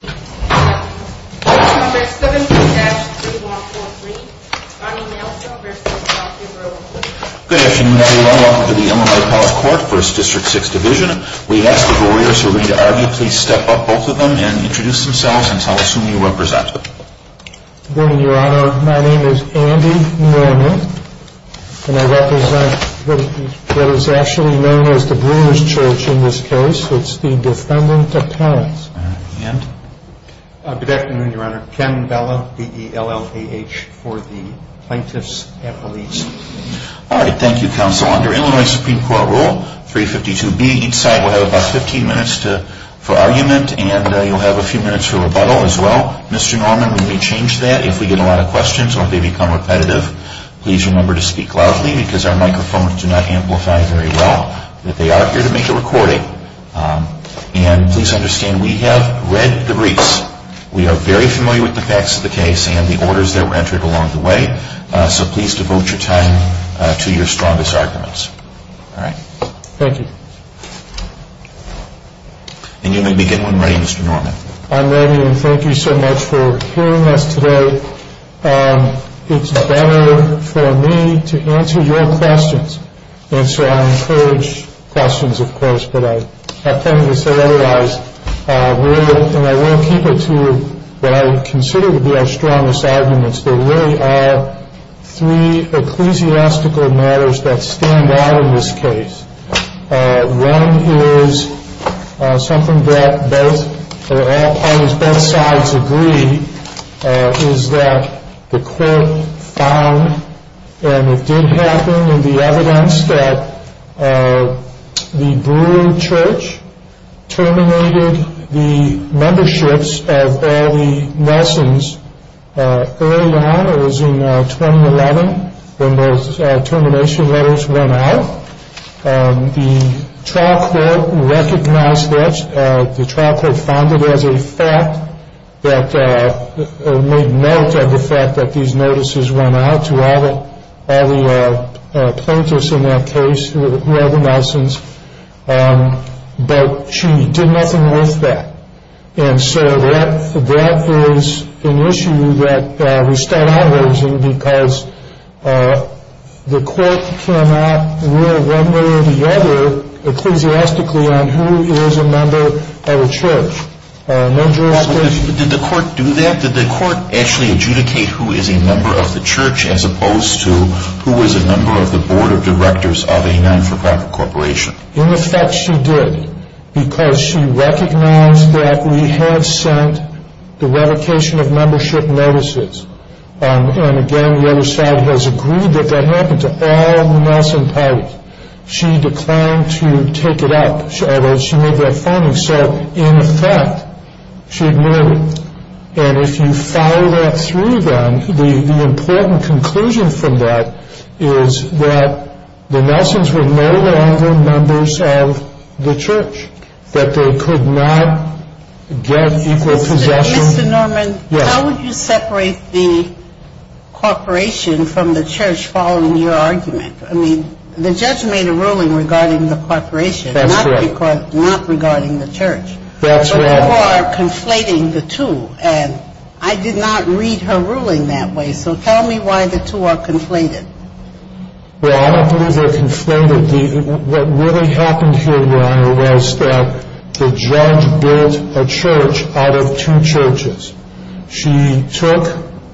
Good afternoon everyone. Welcome to the Illinois Palace Court, 1st District, 6th Division. We ask the Brewers who are ready to argue, please step up, both of them, and introduce themselves and tell us who you represent. Good afternoon, Your Honor. My name is Andy Norman, and I represent what is actually known as the Brewer's Church in this case. It's the Defendant Appellate's. Good afternoon, Your Honor. Ken Bella, D-E-L-L-A-H, for the Plaintiff's Appellate's. All right, thank you, Counsel. Under Illinois Supreme Court Rule 352B, each side will have about 15 minutes for argument, and you'll have a few minutes for rebuttal as well. Mr. Norman, we may change that if we get a lot of questions or if they become repetitive. Please remember to speak loudly because our microphones do not amplify very well. They are here to make a recording, and please understand we have read the briefs. We are very familiar with the facts of the case and the orders that were entered along the way, so please devote your time to your strongest arguments. Thank you. And you may begin when ready, Mr. Norman. I'm ready, and thank you so much for hearing us today. It's better for me to answer your questions, and so I encourage questions, of course, but I have plenty to say otherwise. And I will keep it to what I consider to be our strongest arguments. There really are three ecclesiastical matters that stand out in this case. One is something that both parties, both sides agree is that the court found, and it did happen in the evidence, that the Brewer Church terminated the memberships of all the Nelsons early on. It was in 2011 when those termination letters went out. The trial court recognized that. The trial court found it as a fact that made note of the fact that these notices went out to all the plaintiffs in that case who had the Nelsons, but she did nothing with that. And so that is an issue that we stand out against because the court cannot rule one way or the other ecclesiastically on who is a member of a church. Did the court do that? Did the court actually adjudicate who is a member of the church as opposed to who is a member of the board of directors of a non-for-profit corporation? In effect, she did because she recognized that we had sent the revocation of membership notices. And again, the other side has agreed that that happened to all Nelson parties. Mr. Norman, how would you separate the corporation from the church following your argument? I mean, the judge made a ruling regarding the corporation, not regarding the church. But you are conflating the two. And I did not read her ruling that way. So tell me why the two are conflated. Well, I don't believe they are conflated. What really happened here, Your Honor, was that the judge built a church out of two churches. She took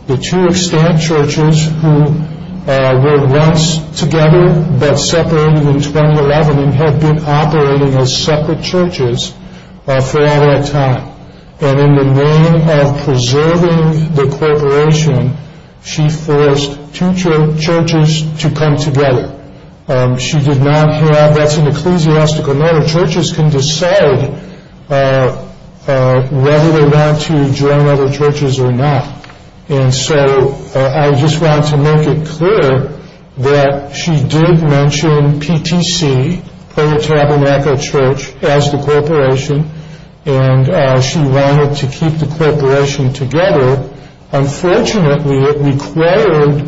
the two extant churches who were once together but separated in 2011 and had been operating as separate churches for all that time. And in the name of preserving the corporation, she forced two churches to come together. That's an ecclesiastical matter. Churches can decide whether they want to join other churches or not. And so I just want to make it clear that she did mention PTC, Puerto Tabernacle Church, as the corporation. And she wanted to keep the corporation together. Unfortunately, it required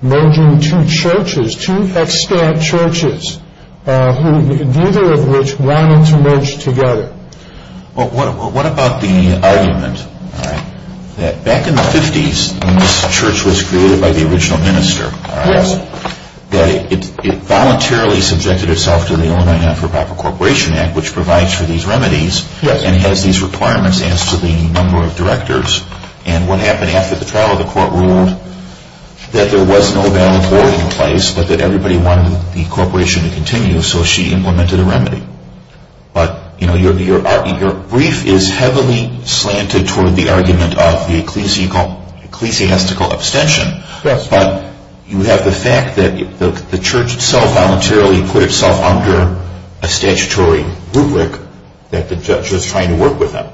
merging two churches, two extant churches, neither of which wanted to merge together. Well, what about the argument that back in the 50s, when this church was created by the original minister, that it voluntarily subjected itself to the Illinois Non-For-Proper Corporation Act, which provides for these remedies, and has these requirements as to the number of directors. And what happened after the trial? The court ruled that there was no balance board in place, but that everybody wanted the corporation to continue, so she implemented a remedy. But your brief is heavily slanted toward the argument of the ecclesiastical abstention, but you have the fact that the church itself voluntarily put itself under a statutory rubric that the judge was trying to work with them.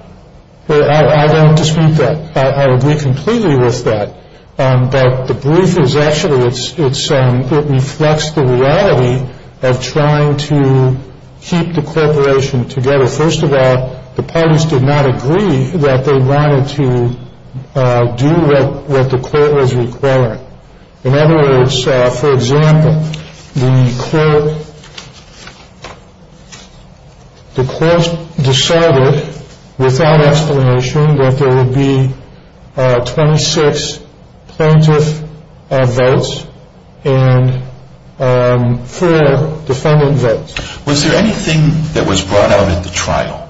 I don't dispute that. I agree completely with that. But the brief reflects the reality of trying to keep the corporation together. First of all, the parties did not agree that they wanted to do what the court was requiring. In other words, for example, the court decided without explanation that there would be 26 plaintiff votes and 4 defendant votes. Was there anything that was brought out at the trial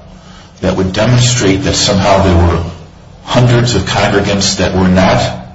that would demonstrate that somehow there were hundreds of congregants that were not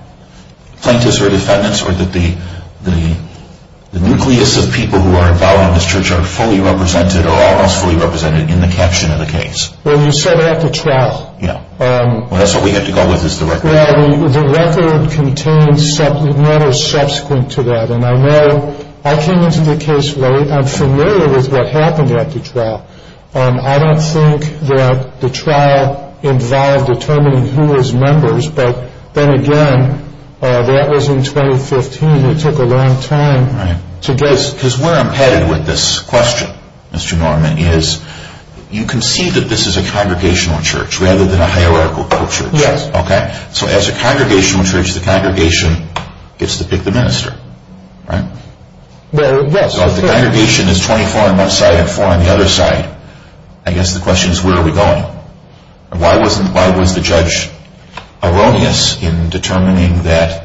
plaintiffs or defendants, or that the nucleus of people who are involved in this church are fully represented or almost fully represented in the caption of the case? Well, you said at the trial. Well, that's what we have to go with, is the record. Well, the record contains matters subsequent to that, and I know I came into the case late. I'm familiar with what happened at the trial. I don't think that the trial involved determining who was members, but then again, that was in 2015. It took a long time to get... Because we're impeded with this question, Mr. Norman, is you can see that this is a congregational church rather than a hierarchical church. Yes. Okay. So as a congregational church, the congregation gets to pick the minister, right? Well, yes. So if the congregation is 24 on one side and 4 on the other side, I guess the question is where are we going? Why was the judge erroneous in determining that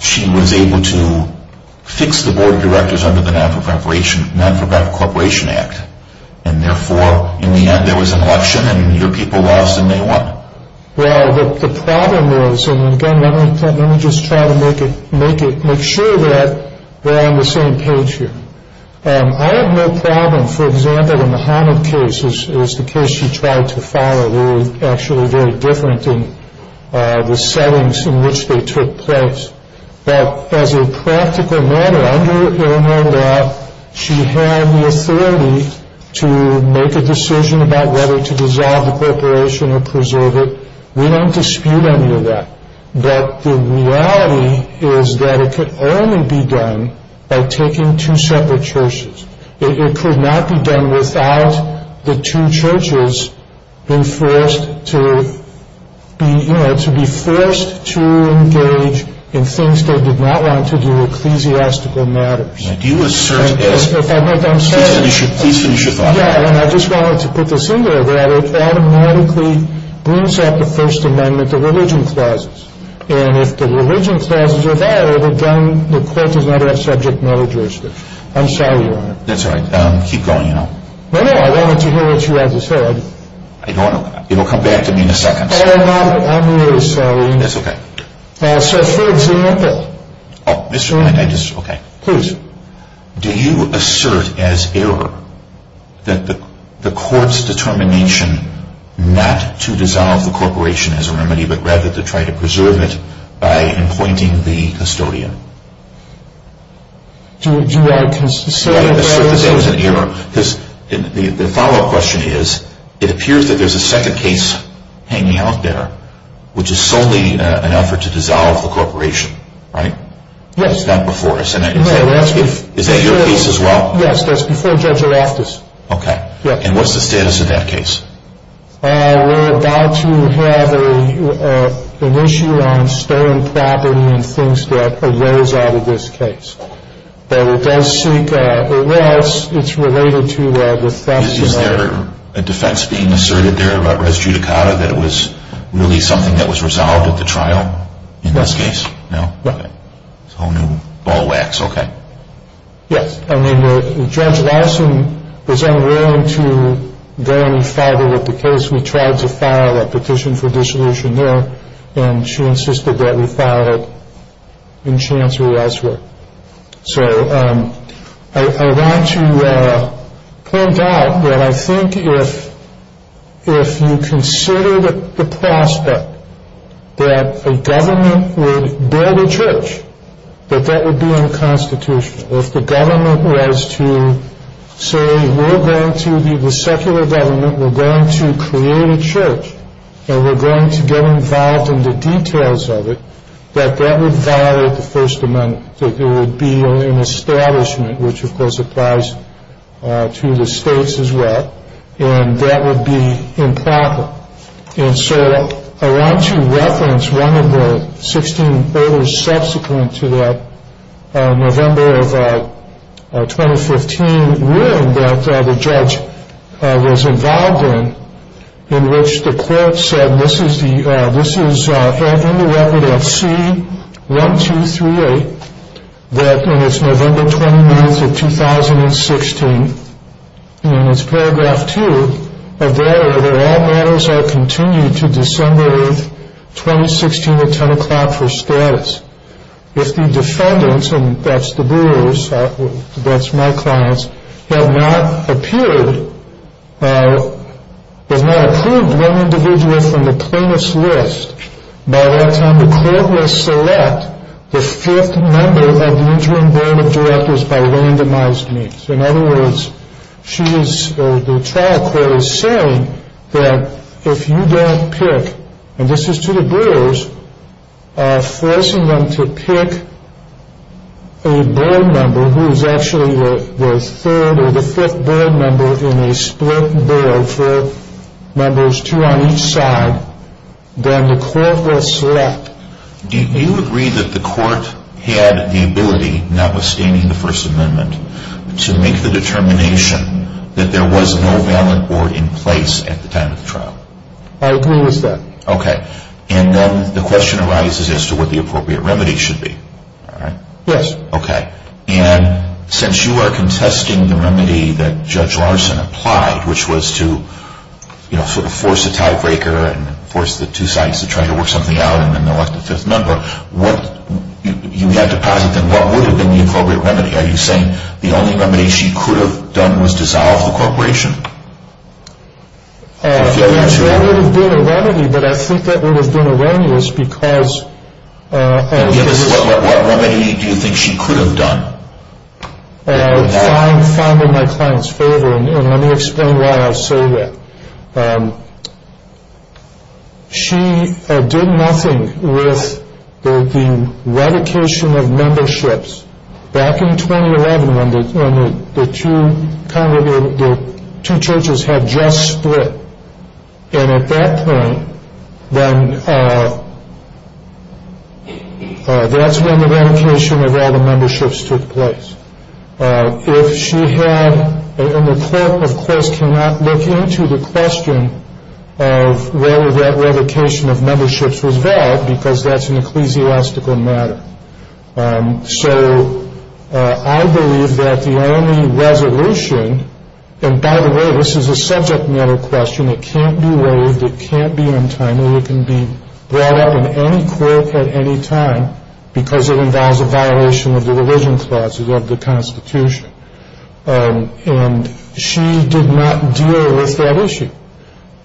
she was able to fix the board of directors under the Nonprofit Corporation Act, and therefore, in the end, there was an election and your people lost and they won? Well, the problem is, and again, let me just try to make sure that we're on the same page here. I have no problem, for example, in the Hanif case, which is the case she tried to follow. They were actually very different in the settings in which they took place. But as a practical matter, under Illinois law, she had the authority to make a decision about whether to dissolve the corporation or preserve it. We don't dispute any of that. But the reality is that it could only be done by taking two separate churches. It could not be done without the two churches being forced to be forced to engage in things they did not want to do, ecclesiastical matters. Now, do you assert that? Please finish your thought on that. Yeah, and I just wanted to put this in there that it automatically brings up the First Amendment to religion clauses. And if the religion clauses are valid, again, the court does not have subject matter jurisdiction. I'm sorry, Your Honor. That's all right. Keep going, you know. No, no, I wanted to hear what you had to say. I don't know. It'll come back to me in a second. I'm really sorry. That's okay. So, for example. Oh, Mr. Knight, I just, okay. Please. Do you assert as error that the court's determination not to dissolve the corporation is a remedy, but rather to try to preserve it by appointing the custodian? Do I assert that that was an error? The follow-up question is, it appears that there's a second case hanging out there, which is solely an effort to dissolve the corporation, right? Yes. That's not before us. No, that's before. Is that your case as well? Yes, that's before Judge O'Raftis. Okay. Yes. And what's the status of that case? We're about to have an issue on stolen property and things that arose out of this case. But it does seek, well, it's related to the theft. Is there a defense being asserted there about Res Judicata that it was really something that was resolved at the trial in this case? No. Okay. It's a whole new ball of wax. Okay. Yes. I mean, Judge Larson was unwilling to go any further with the case. We tried to file a petition for dissolution there, and she insisted that we file it in chance or elsewhere. So I want to point out that I think if you considered the prospect that a government would build a church, that that would be unconstitutional. If the government was to say, we're going to be the secular government, we're going to create a church, and we're going to get involved in the details of it, that that would violate the First Amendment, that there would be an establishment, which, of course, applies to the states as well, and that would be improper. And so I want to reference one of the 16 voters subsequent to that November of 2015 ruling that the judge was involved in, in which the court said, and this is in the record of C-1238, that in its November 29th of 2016, in its paragraph two of that order, all matters are continued to December 8th, 2016 at 10 o'clock for status. If the defendants, and that's the brewers, that's my clients, have not appeared, have not approved one individual from the plaintiff's list, by that time the court will select the fifth member of the interim board of directors by randomized means. In other words, the trial court is saying that if you don't pick, and this is to the brewers, forcing them to pick a board member who is actually the third or the fifth board member in a split board, four members, two on each side, then the court will select. Do you agree that the court had the ability, notwithstanding the First Amendment, to make the determination that there was no valid board in place at the time of the trial? I agree with that. Okay. And then the question arises as to what the appropriate remedy should be. Yes. Okay. And since you are contesting the remedy that Judge Larson applied, which was to sort of force a tiebreaker and force the two sides to try to work something out, and then elect a fifth member, you had to posit then what would have been the appropriate remedy. Are you saying the only remedy she could have done was dissolve the corporation? That would have been a remedy, but I think that would have been erroneous because… What remedy do you think she could have done? Fine, fine in my client's favor, and let me explain why I say that. She did nothing with the revocation of memberships. Back in 2011 when the two churches had just split, and at that point, then that's when the revocation of all the memberships took place. If she had, and the court, of course, cannot look into the question of whether that revocation of memberships was valid because that's an ecclesiastical matter. So I believe that the only resolution, and by the way, this is a subject matter question, it can't be waived, it can't be untimely, it can be brought up in any court at any time because it involves a violation of the religion clauses of the Constitution. And she did not deal with that issue.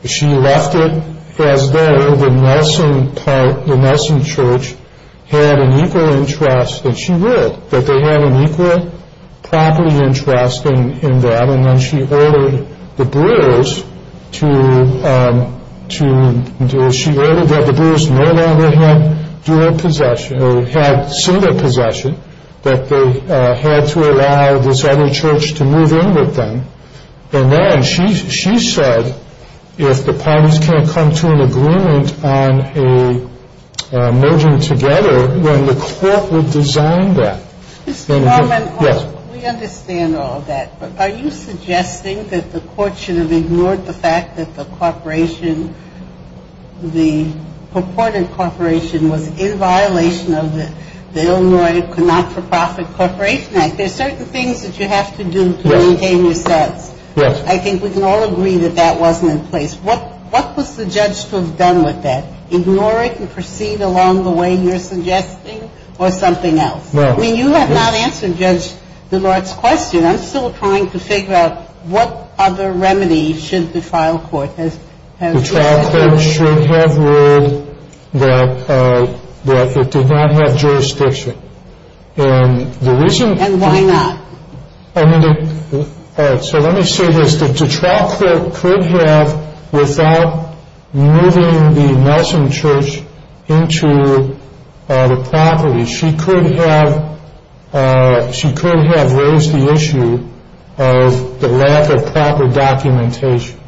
She left it as though the Nelson Church had an equal interest, and she did, that they had an equal property interest in that, and then she ordered that the brewers no longer had dual possession, or had single possession, that they had to allow this other church to move in with them. And then she said if the parties can't come to an agreement on a merger together, then the court would design that. Mr. Norman, we understand all that, but are you suggesting that the court should have ignored the fact that the corporation, the purported corporation was in violation of the Illinois Not-for-Profit Corporation Act? There are certain things that you have to do to maintain your sense. Yes. I think we can all agree that that wasn't in place. What was the judge to have done with that? Ignore it and proceed along the way you're suggesting, or something else? No. I mean, you have not answered, Judge, the Lord's question. I'm still trying to figure out what other remedy should the trial court have used. The trial court should have ruled that it did not have jurisdiction. And why not? So let me say this. The trial court could have, without moving the nursing church into the property, she could have raised the issue of the lack of proper documentation.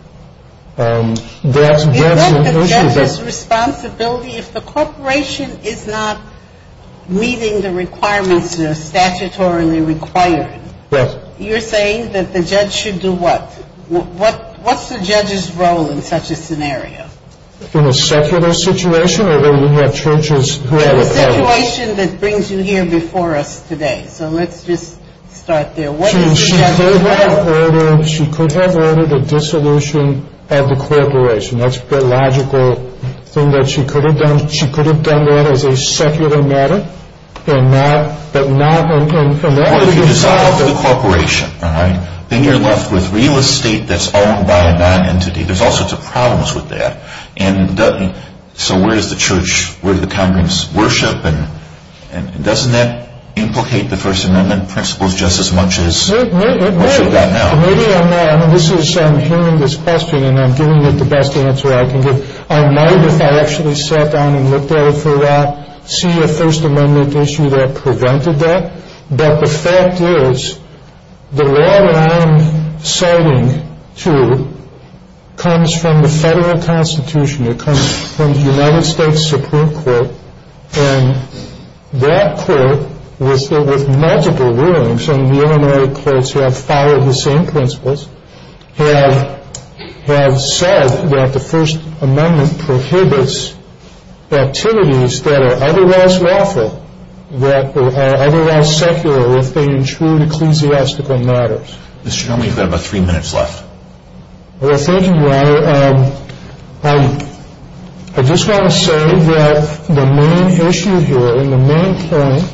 Is that the judge's responsibility? If the corporation is not meeting the requirements that are statutorily required, you're saying that the judge should do what? What's the judge's role in such a scenario? In a secular situation, or do we have churches who have a problem? The situation that brings you here before us today. So let's just start there. She could have ordered a dissolution of the corporation. That's the logical thing that she could have done. She could have done that as a secular matter. But not in connection with the corporation. Well, if you dissolve the corporation, all right, then you're left with real estate that's owned by a nonentity. There's all sorts of problems with that. And so where does the church, where do the congregants worship? And doesn't that implicate the First Amendment principles just as much as it does now? Maybe I'm not. I mean, I'm hearing this question, and I'm giving it the best answer I can give. I might, if I actually sat down and looked at it for a while, see a First Amendment issue that prevented that. But the fact is, the law that I'm citing, too, comes from the federal constitution. It comes from the United States Supreme Court. And that court, with multiple rulings, and the Illinois courts have followed the same principles, have said that the First Amendment prohibits activities that are otherwise lawful, that are otherwise secular if they intrude ecclesiastical matters. Mr. Chairman, you've got about three minutes left. Well, thank you, Your Honor. I just want to say that the main issue here, and the main point,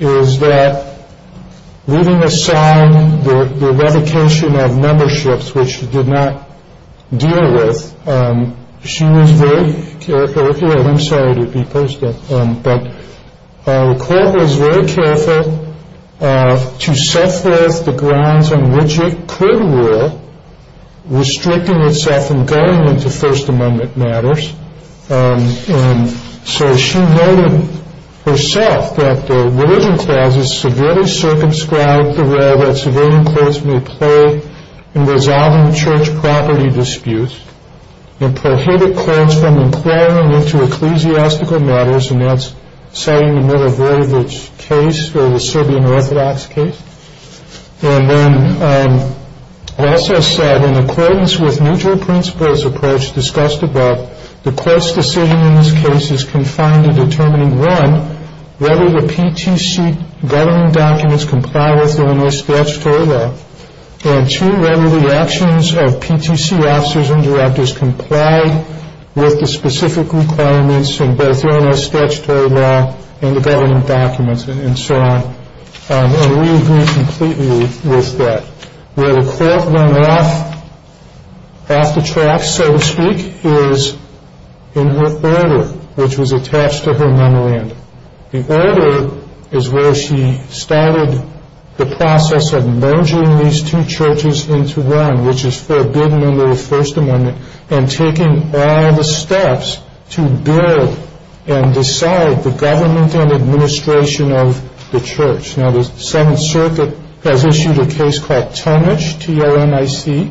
is that leaving aside the revocation of memberships, which did not deal with, she was very careful here, and I'm sorry to be posted, but the court was very careful to set forth the grounds on which it could rule, restricting itself from going into First Amendment matters. And so she noted herself that the religion clauses severely circumscribed the role that civilian courts may play in resolving church property disputes, and prohibited courts from employing it to ecclesiastical matters, and that's citing the Middle Voivodes case, or the Serbian Orthodox case. And then also said, in accordance with neutral principles approach discussed above, the court's decision in this case is confined to determining, one, whether the PTC governing documents comply with Illinois statutory law, and two, whether the actions of PTC officers and directors comply with the specific requirements in both Illinois statutory law and the governing documents, and so on. And we agree completely with that. Where the court went off the track, so to speak, is in her order, which was attached to her memorandum. The order is where she started the process of merging these two churches into one, which is forbidden under the First Amendment, and taking all the steps to build and decide the government and administration of the church. Now, the Seventh Circuit has issued a case called Tomic, T-O-M-I-C,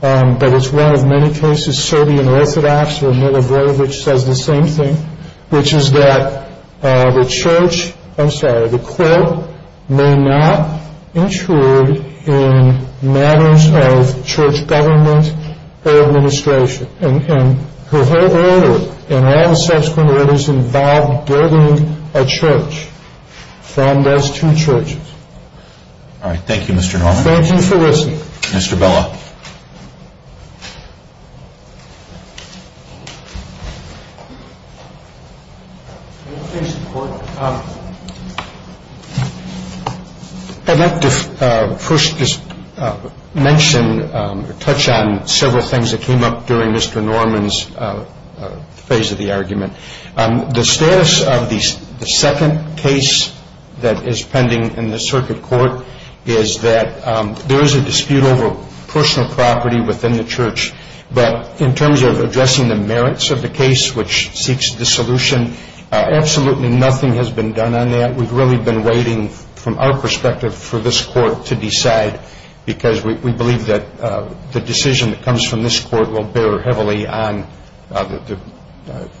but it's one of many cases, Serbian Orthodox, where Middle Voivodes says the same thing, which is that the court may not intrude in matters of church government or administration. And her whole order, and all the subsequent orders involved building a church from those two churches. All right. Thank you, Mr. Norman. Thank you for listening. Mr. Bella. I'd like to first just mention or touch on several things that came up during Mr. Norman's phase of the argument. The status of the second case that is pending in the circuit court is that there is a dispute over personal property within the church, but in terms of addressing the merits of the case, which seeks dissolution, absolutely nothing has been done on that. We've really been waiting, from our perspective, for this court to decide, because we believe that the decision that comes from this court will bear heavily on the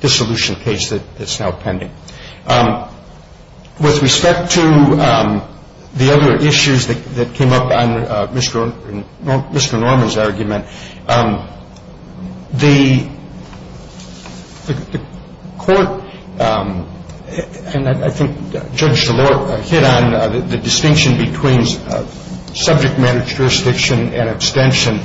dissolution case that's now pending. With respect to the other issues that came up on Mr. Norman's argument, the court, and I think Judge DeLore hit on the distinction between subject matter jurisdiction and abstention.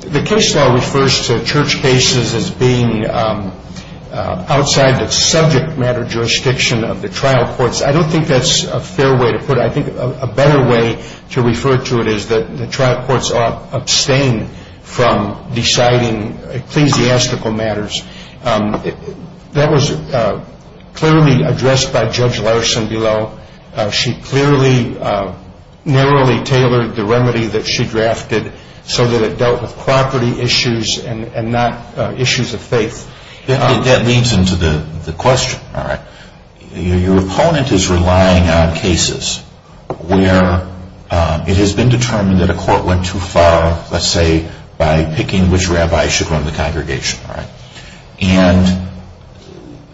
The case law refers to church cases as being outside the subject matter jurisdiction of the trial courts. I don't think that's a fair way to put it. I think a better way to refer to it is that the trial courts are abstained from deciding ecclesiastical matters. That was clearly addressed by Judge Larson below. She clearly, narrowly tailored the remedy that she drafted so that it dealt with property issues and not issues of faith. That leads into the question. Your opponent is relying on cases where it has been determined that a court went too far, let's say, by picking which rabbi should run the congregation.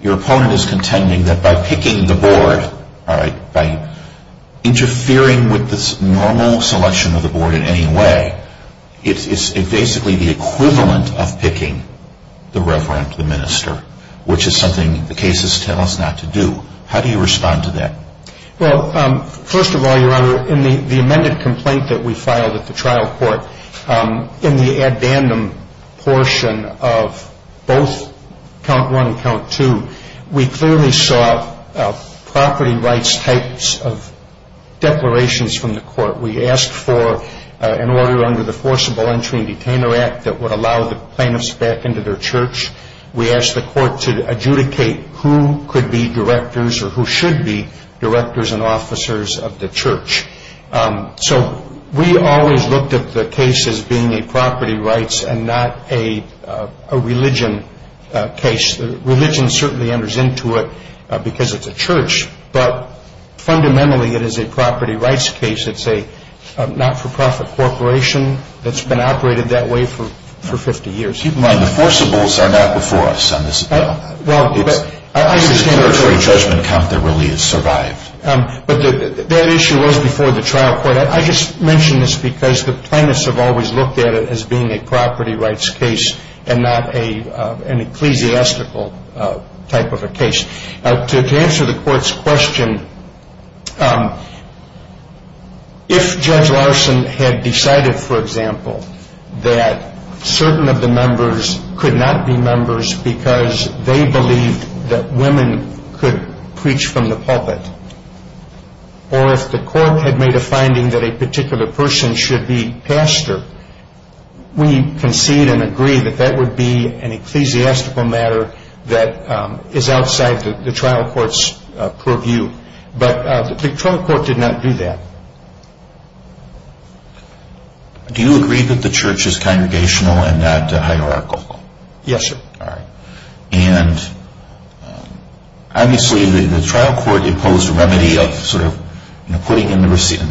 Your opponent is contending that by picking the board, by interfering with the normal selection of the board in any way, it's basically the equivalent of picking the reverend, the minister, which is something the cases tell us not to do. How do you respond to that? Well, first of all, Your Honor, in the amended complaint that we filed at the trial court, in the addendum portion of both count one and count two, we clearly saw property rights types of declarations from the court. We asked for an order under the Forcible Entry and Detainer Act that would allow the plaintiffs back into their church. We asked the court to adjudicate who could be directors or who should be directors and officers of the church. So we always looked at the case as being a property rights and not a religion case. Religion certainly enters into it because it's a church, but fundamentally it is a property rights case. It's a not-for-profit corporation that's been operated that way for 50 years. Keep in mind the forcibles are not before us on this bill. Well, I understand that. It's a territory judgment count that really has survived. But that issue was before the trial court. I just mention this because the plaintiffs have always looked at it as being a property rights case and not an ecclesiastical type of a case. To answer the court's question, if Judge Larson had decided, for example, that certain of the members could not be members because they believed that women could preach from the pulpit, or if the court had made a finding that a particular person should be pastor, we concede and agree that that would be an ecclesiastical matter that is outside the trial court's purview. But the trial court did not do that. Do you agree that the church is congregational and not hierarchical? Yes, sir. All right. And obviously the trial court imposed a remedy of sort of putting in the receiver,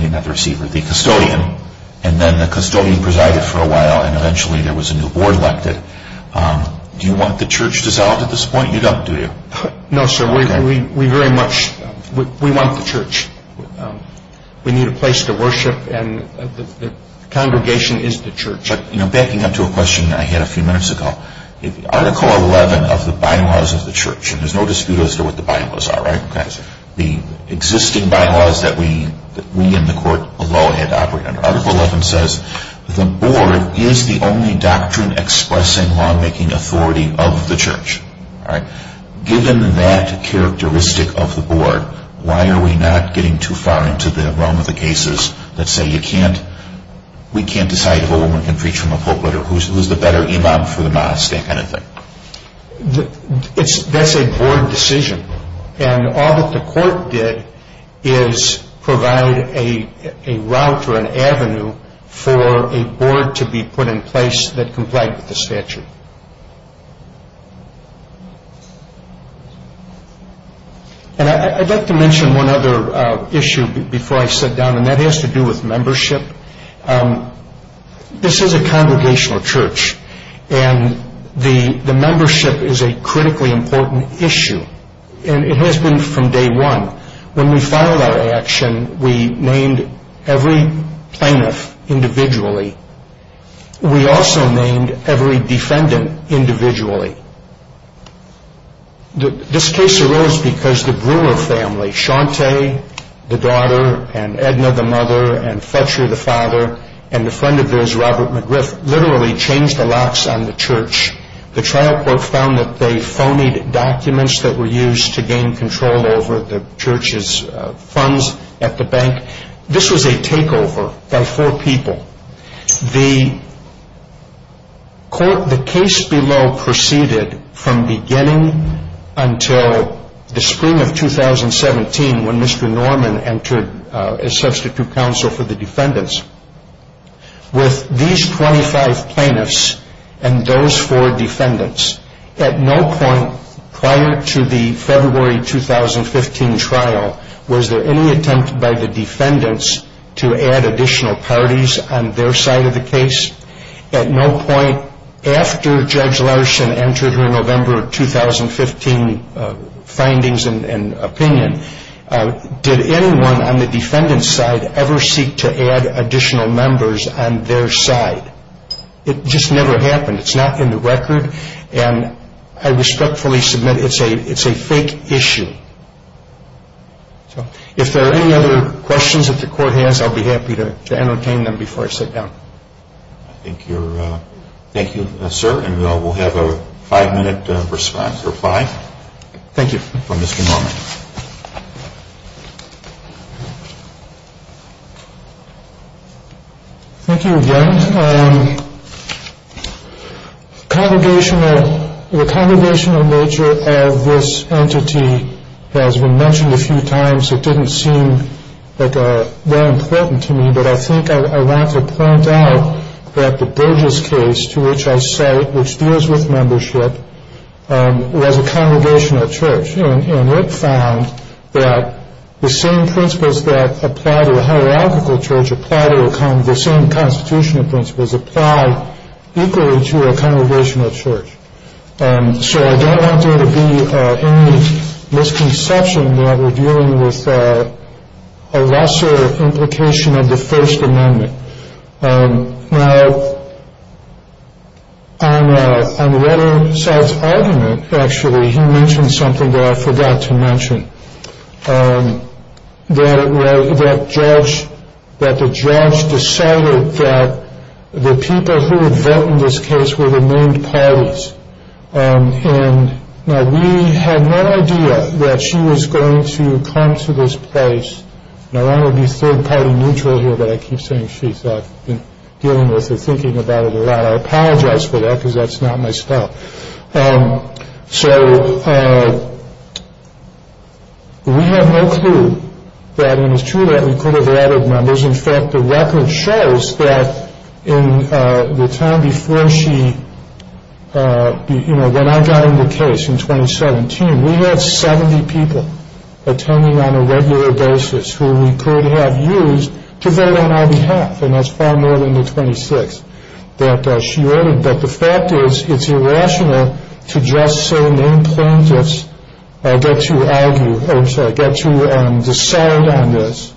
the custodian, and then the custodian presided for a while and eventually there was a new board elected. Do you want the church dissolved at this point? You don't, do you? No, sir. We very much, we want the church. We need a place to worship and the congregation is the church. Backing up to a question I had a few minutes ago. Article 11 of the bylaws of the church, and there's no dispute as to what the bylaws are, right? The existing bylaws that we in the court below had to operate under. Article 11 says the board is the only doctrine expressing lawmaking authority of the church. Given that characteristic of the board, why are we not getting too far into the realm of the cases that say you can't, we can't decide if a woman can preach from a pulpit or who's the better imam for the mosque, that kind of thing? That's a board decision. And all that the court did is provide a route or an avenue for a board to be put in place that complied with the statute. And I'd like to mention one other issue before I sit down, and that has to do with membership. This is a congregational church, and the membership is a critically important issue, and it has been from day one. When we filed our action, we named every plaintiff individually. We also named every defendant individually. This case arose because the Brewer family, Shante, the daughter, and Edna, the mother, and Fletcher, the father, and the friend of theirs, Robert McGriff, literally changed the locks on the church. The trial court found that they phonied documents that were used to gain control over the church's funds at the bank. This was a takeover by four people. The case below proceeded from beginning until the spring of 2017 when Mr. Norman entered as substitute counsel for the defendants. With these 25 plaintiffs and those four defendants, at no point prior to the February 2015 trial was there any attempt by the defendants to add additional parties on their side of the case. At no point after Judge Larson entered her November 2015 findings and opinion, did anyone on the defendant's side ever seek to add additional members on their side. It just never happened. It's not in the record, and I respectfully submit it's a fake issue. If there are any other questions that the court has, I'll be happy to entertain them before I sit down. Thank you, sir, and we'll have a five-minute reply from Mr. Norman. Thank you again. The congregational nature of this entity has been mentioned a few times. It didn't seem very important to me, but I think I want to point out that the Burgess case to which I cite, which deals with membership, was a congregational church. And it found that the same principles that apply to a hierarchical church, the same constitutional principles, apply equally to a congregational church. So I don't want there to be any misconception that we're dealing with a lesser implication of the First Amendment. Now, on Redding's side's argument, actually, he mentioned something that I forgot to mention. That the judge decided that the people who would vote in this case were the named parties. And now we had no idea that she was going to come to this place. And I want to be third-party neutral here, but I keep saying she's been dealing with or thinking about it a lot. I apologize for that because that's not my style. So we have no clue that it was true that we could have added members. In fact, the record shows that in the time before she, you know, when I got in the case in 2017, we had 70 people attending on a regular basis who we could have used to vote on our behalf. And that's far more than the 26 that she ordered. But the fact is, it's irrational to just say named plaintiffs get to argue or get to decide on this.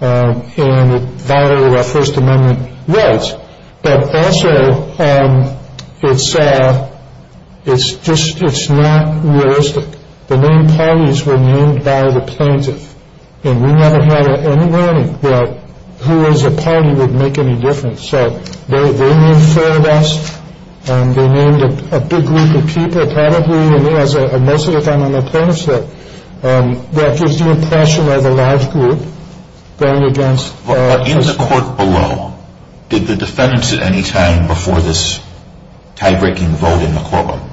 And it violated our First Amendment rights. But also, it's just it's not realistic. The named parties were named by the plaintiff. And we never had any warning that who was a party would make any difference. So they named four of us, and they named a big group of people, probably as most of the time on the plaintiffs' list, that gives the impression of a large group going against us. In the court below, did the defendants at any time before this tie-breaking vote in the courtroom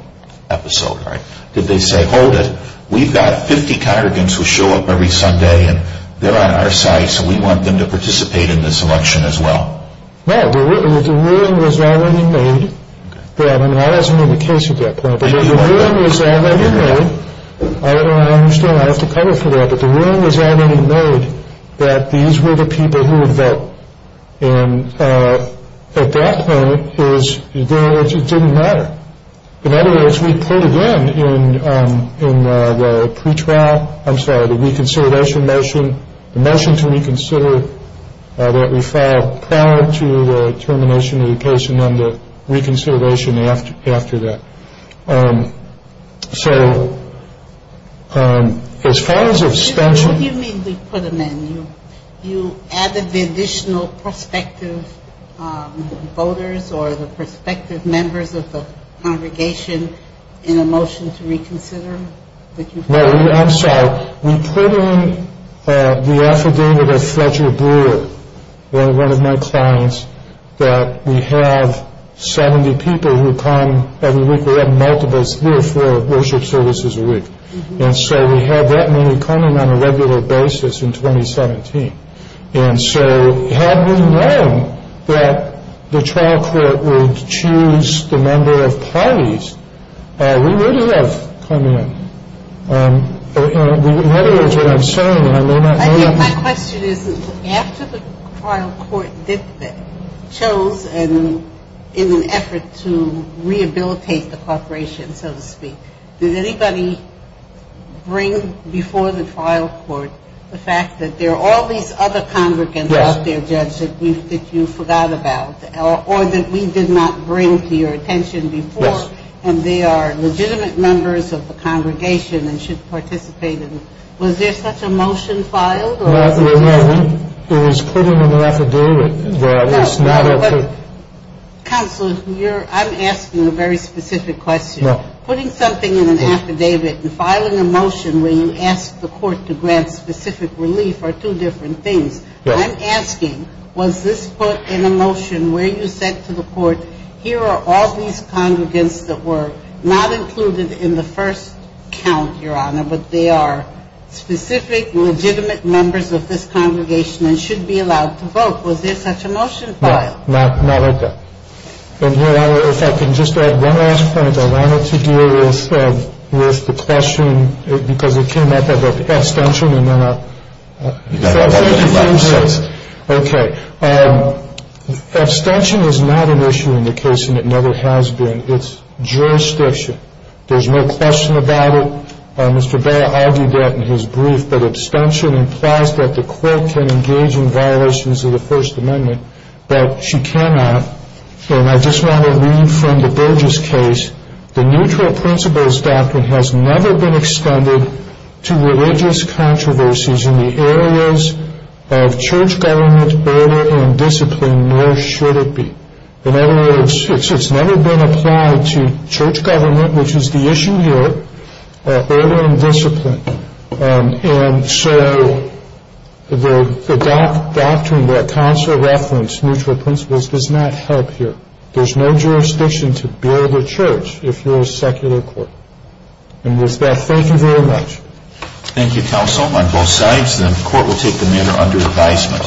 episode, right, did they say, hold it, we've got 50 congregants who show up every Sunday, and they're on our side, so we want them to participate in this election as well? No, the ruling was already made. I mean, I wasn't in the case at that point. But the ruling was already made. I understand I have to cover for that. But the ruling was already made that these were the people who would vote. And at that point, it didn't matter. In other words, we put it in, in the pretrial, I'm sorry, the reconsideration motion, the motion to reconsider that we filed prior to the termination of the case and then the reconsideration after that. So as far as suspension. What do you mean we put them in? You added the additional prospective voters or the prospective members of the congregation in a motion to reconsider? I'm sorry. We put in the affidavit of Fletcher Brewer, one of my clients, that we have 70 people who come every week. We have multiples, three or four worship services a week. And so we had that many coming on a regular basis in 2017. And so had we known that the trial court would choose the number of parties, we would have come in. In other words, what I'm saying, I may not know that. My question is, after the trial court chose in an effort to rehabilitate the corporation, so to speak, did anybody bring before the trial court the fact that there are all these other congregants out there, Judge, that you forgot about or that we did not bring to your attention before? Of course. And they are legitimate members of the congregation and should participate in it. Was there such a motion filed? No, there wasn't. It was put in an affidavit. No, no. Counsel, I'm asking a very specific question. Putting something in an affidavit and filing a motion where you ask the court to grant specific relief are two different things. I'm asking, was this put in a motion where you said to the court, here are all these congregants that were not included in the first count, Your Honor, but they are specific, legitimate members of this congregation and should be allowed to vote? Was there such a motion filed? No, not at that. And, Your Honor, if I can just add one last point I wanted to do with the question, because it came up of abstention, and then I'll. You've got about 35 seconds. Okay. Abstention is not an issue in the case, and it never has been. It's jurisdiction. There's no question about it. Mr. Barrett argued that in his brief. But abstention implies that the court can engage in violations of the First Amendment, but she cannot. And I just want to read from the Burgess case. The neutral principles doctrine has never been extended to religious controversies in the areas of church government, order, and discipline, nor should it be. In other words, it's never been applied to church government, which is the issue here, order and discipline. And so the doctrine that counsel referenced, neutral principles, does not help here. There's no jurisdiction to build a church if you're a secular court. And with that, thank you very much. Thank you, counsel, on both sides. The court will take the matter under advisement.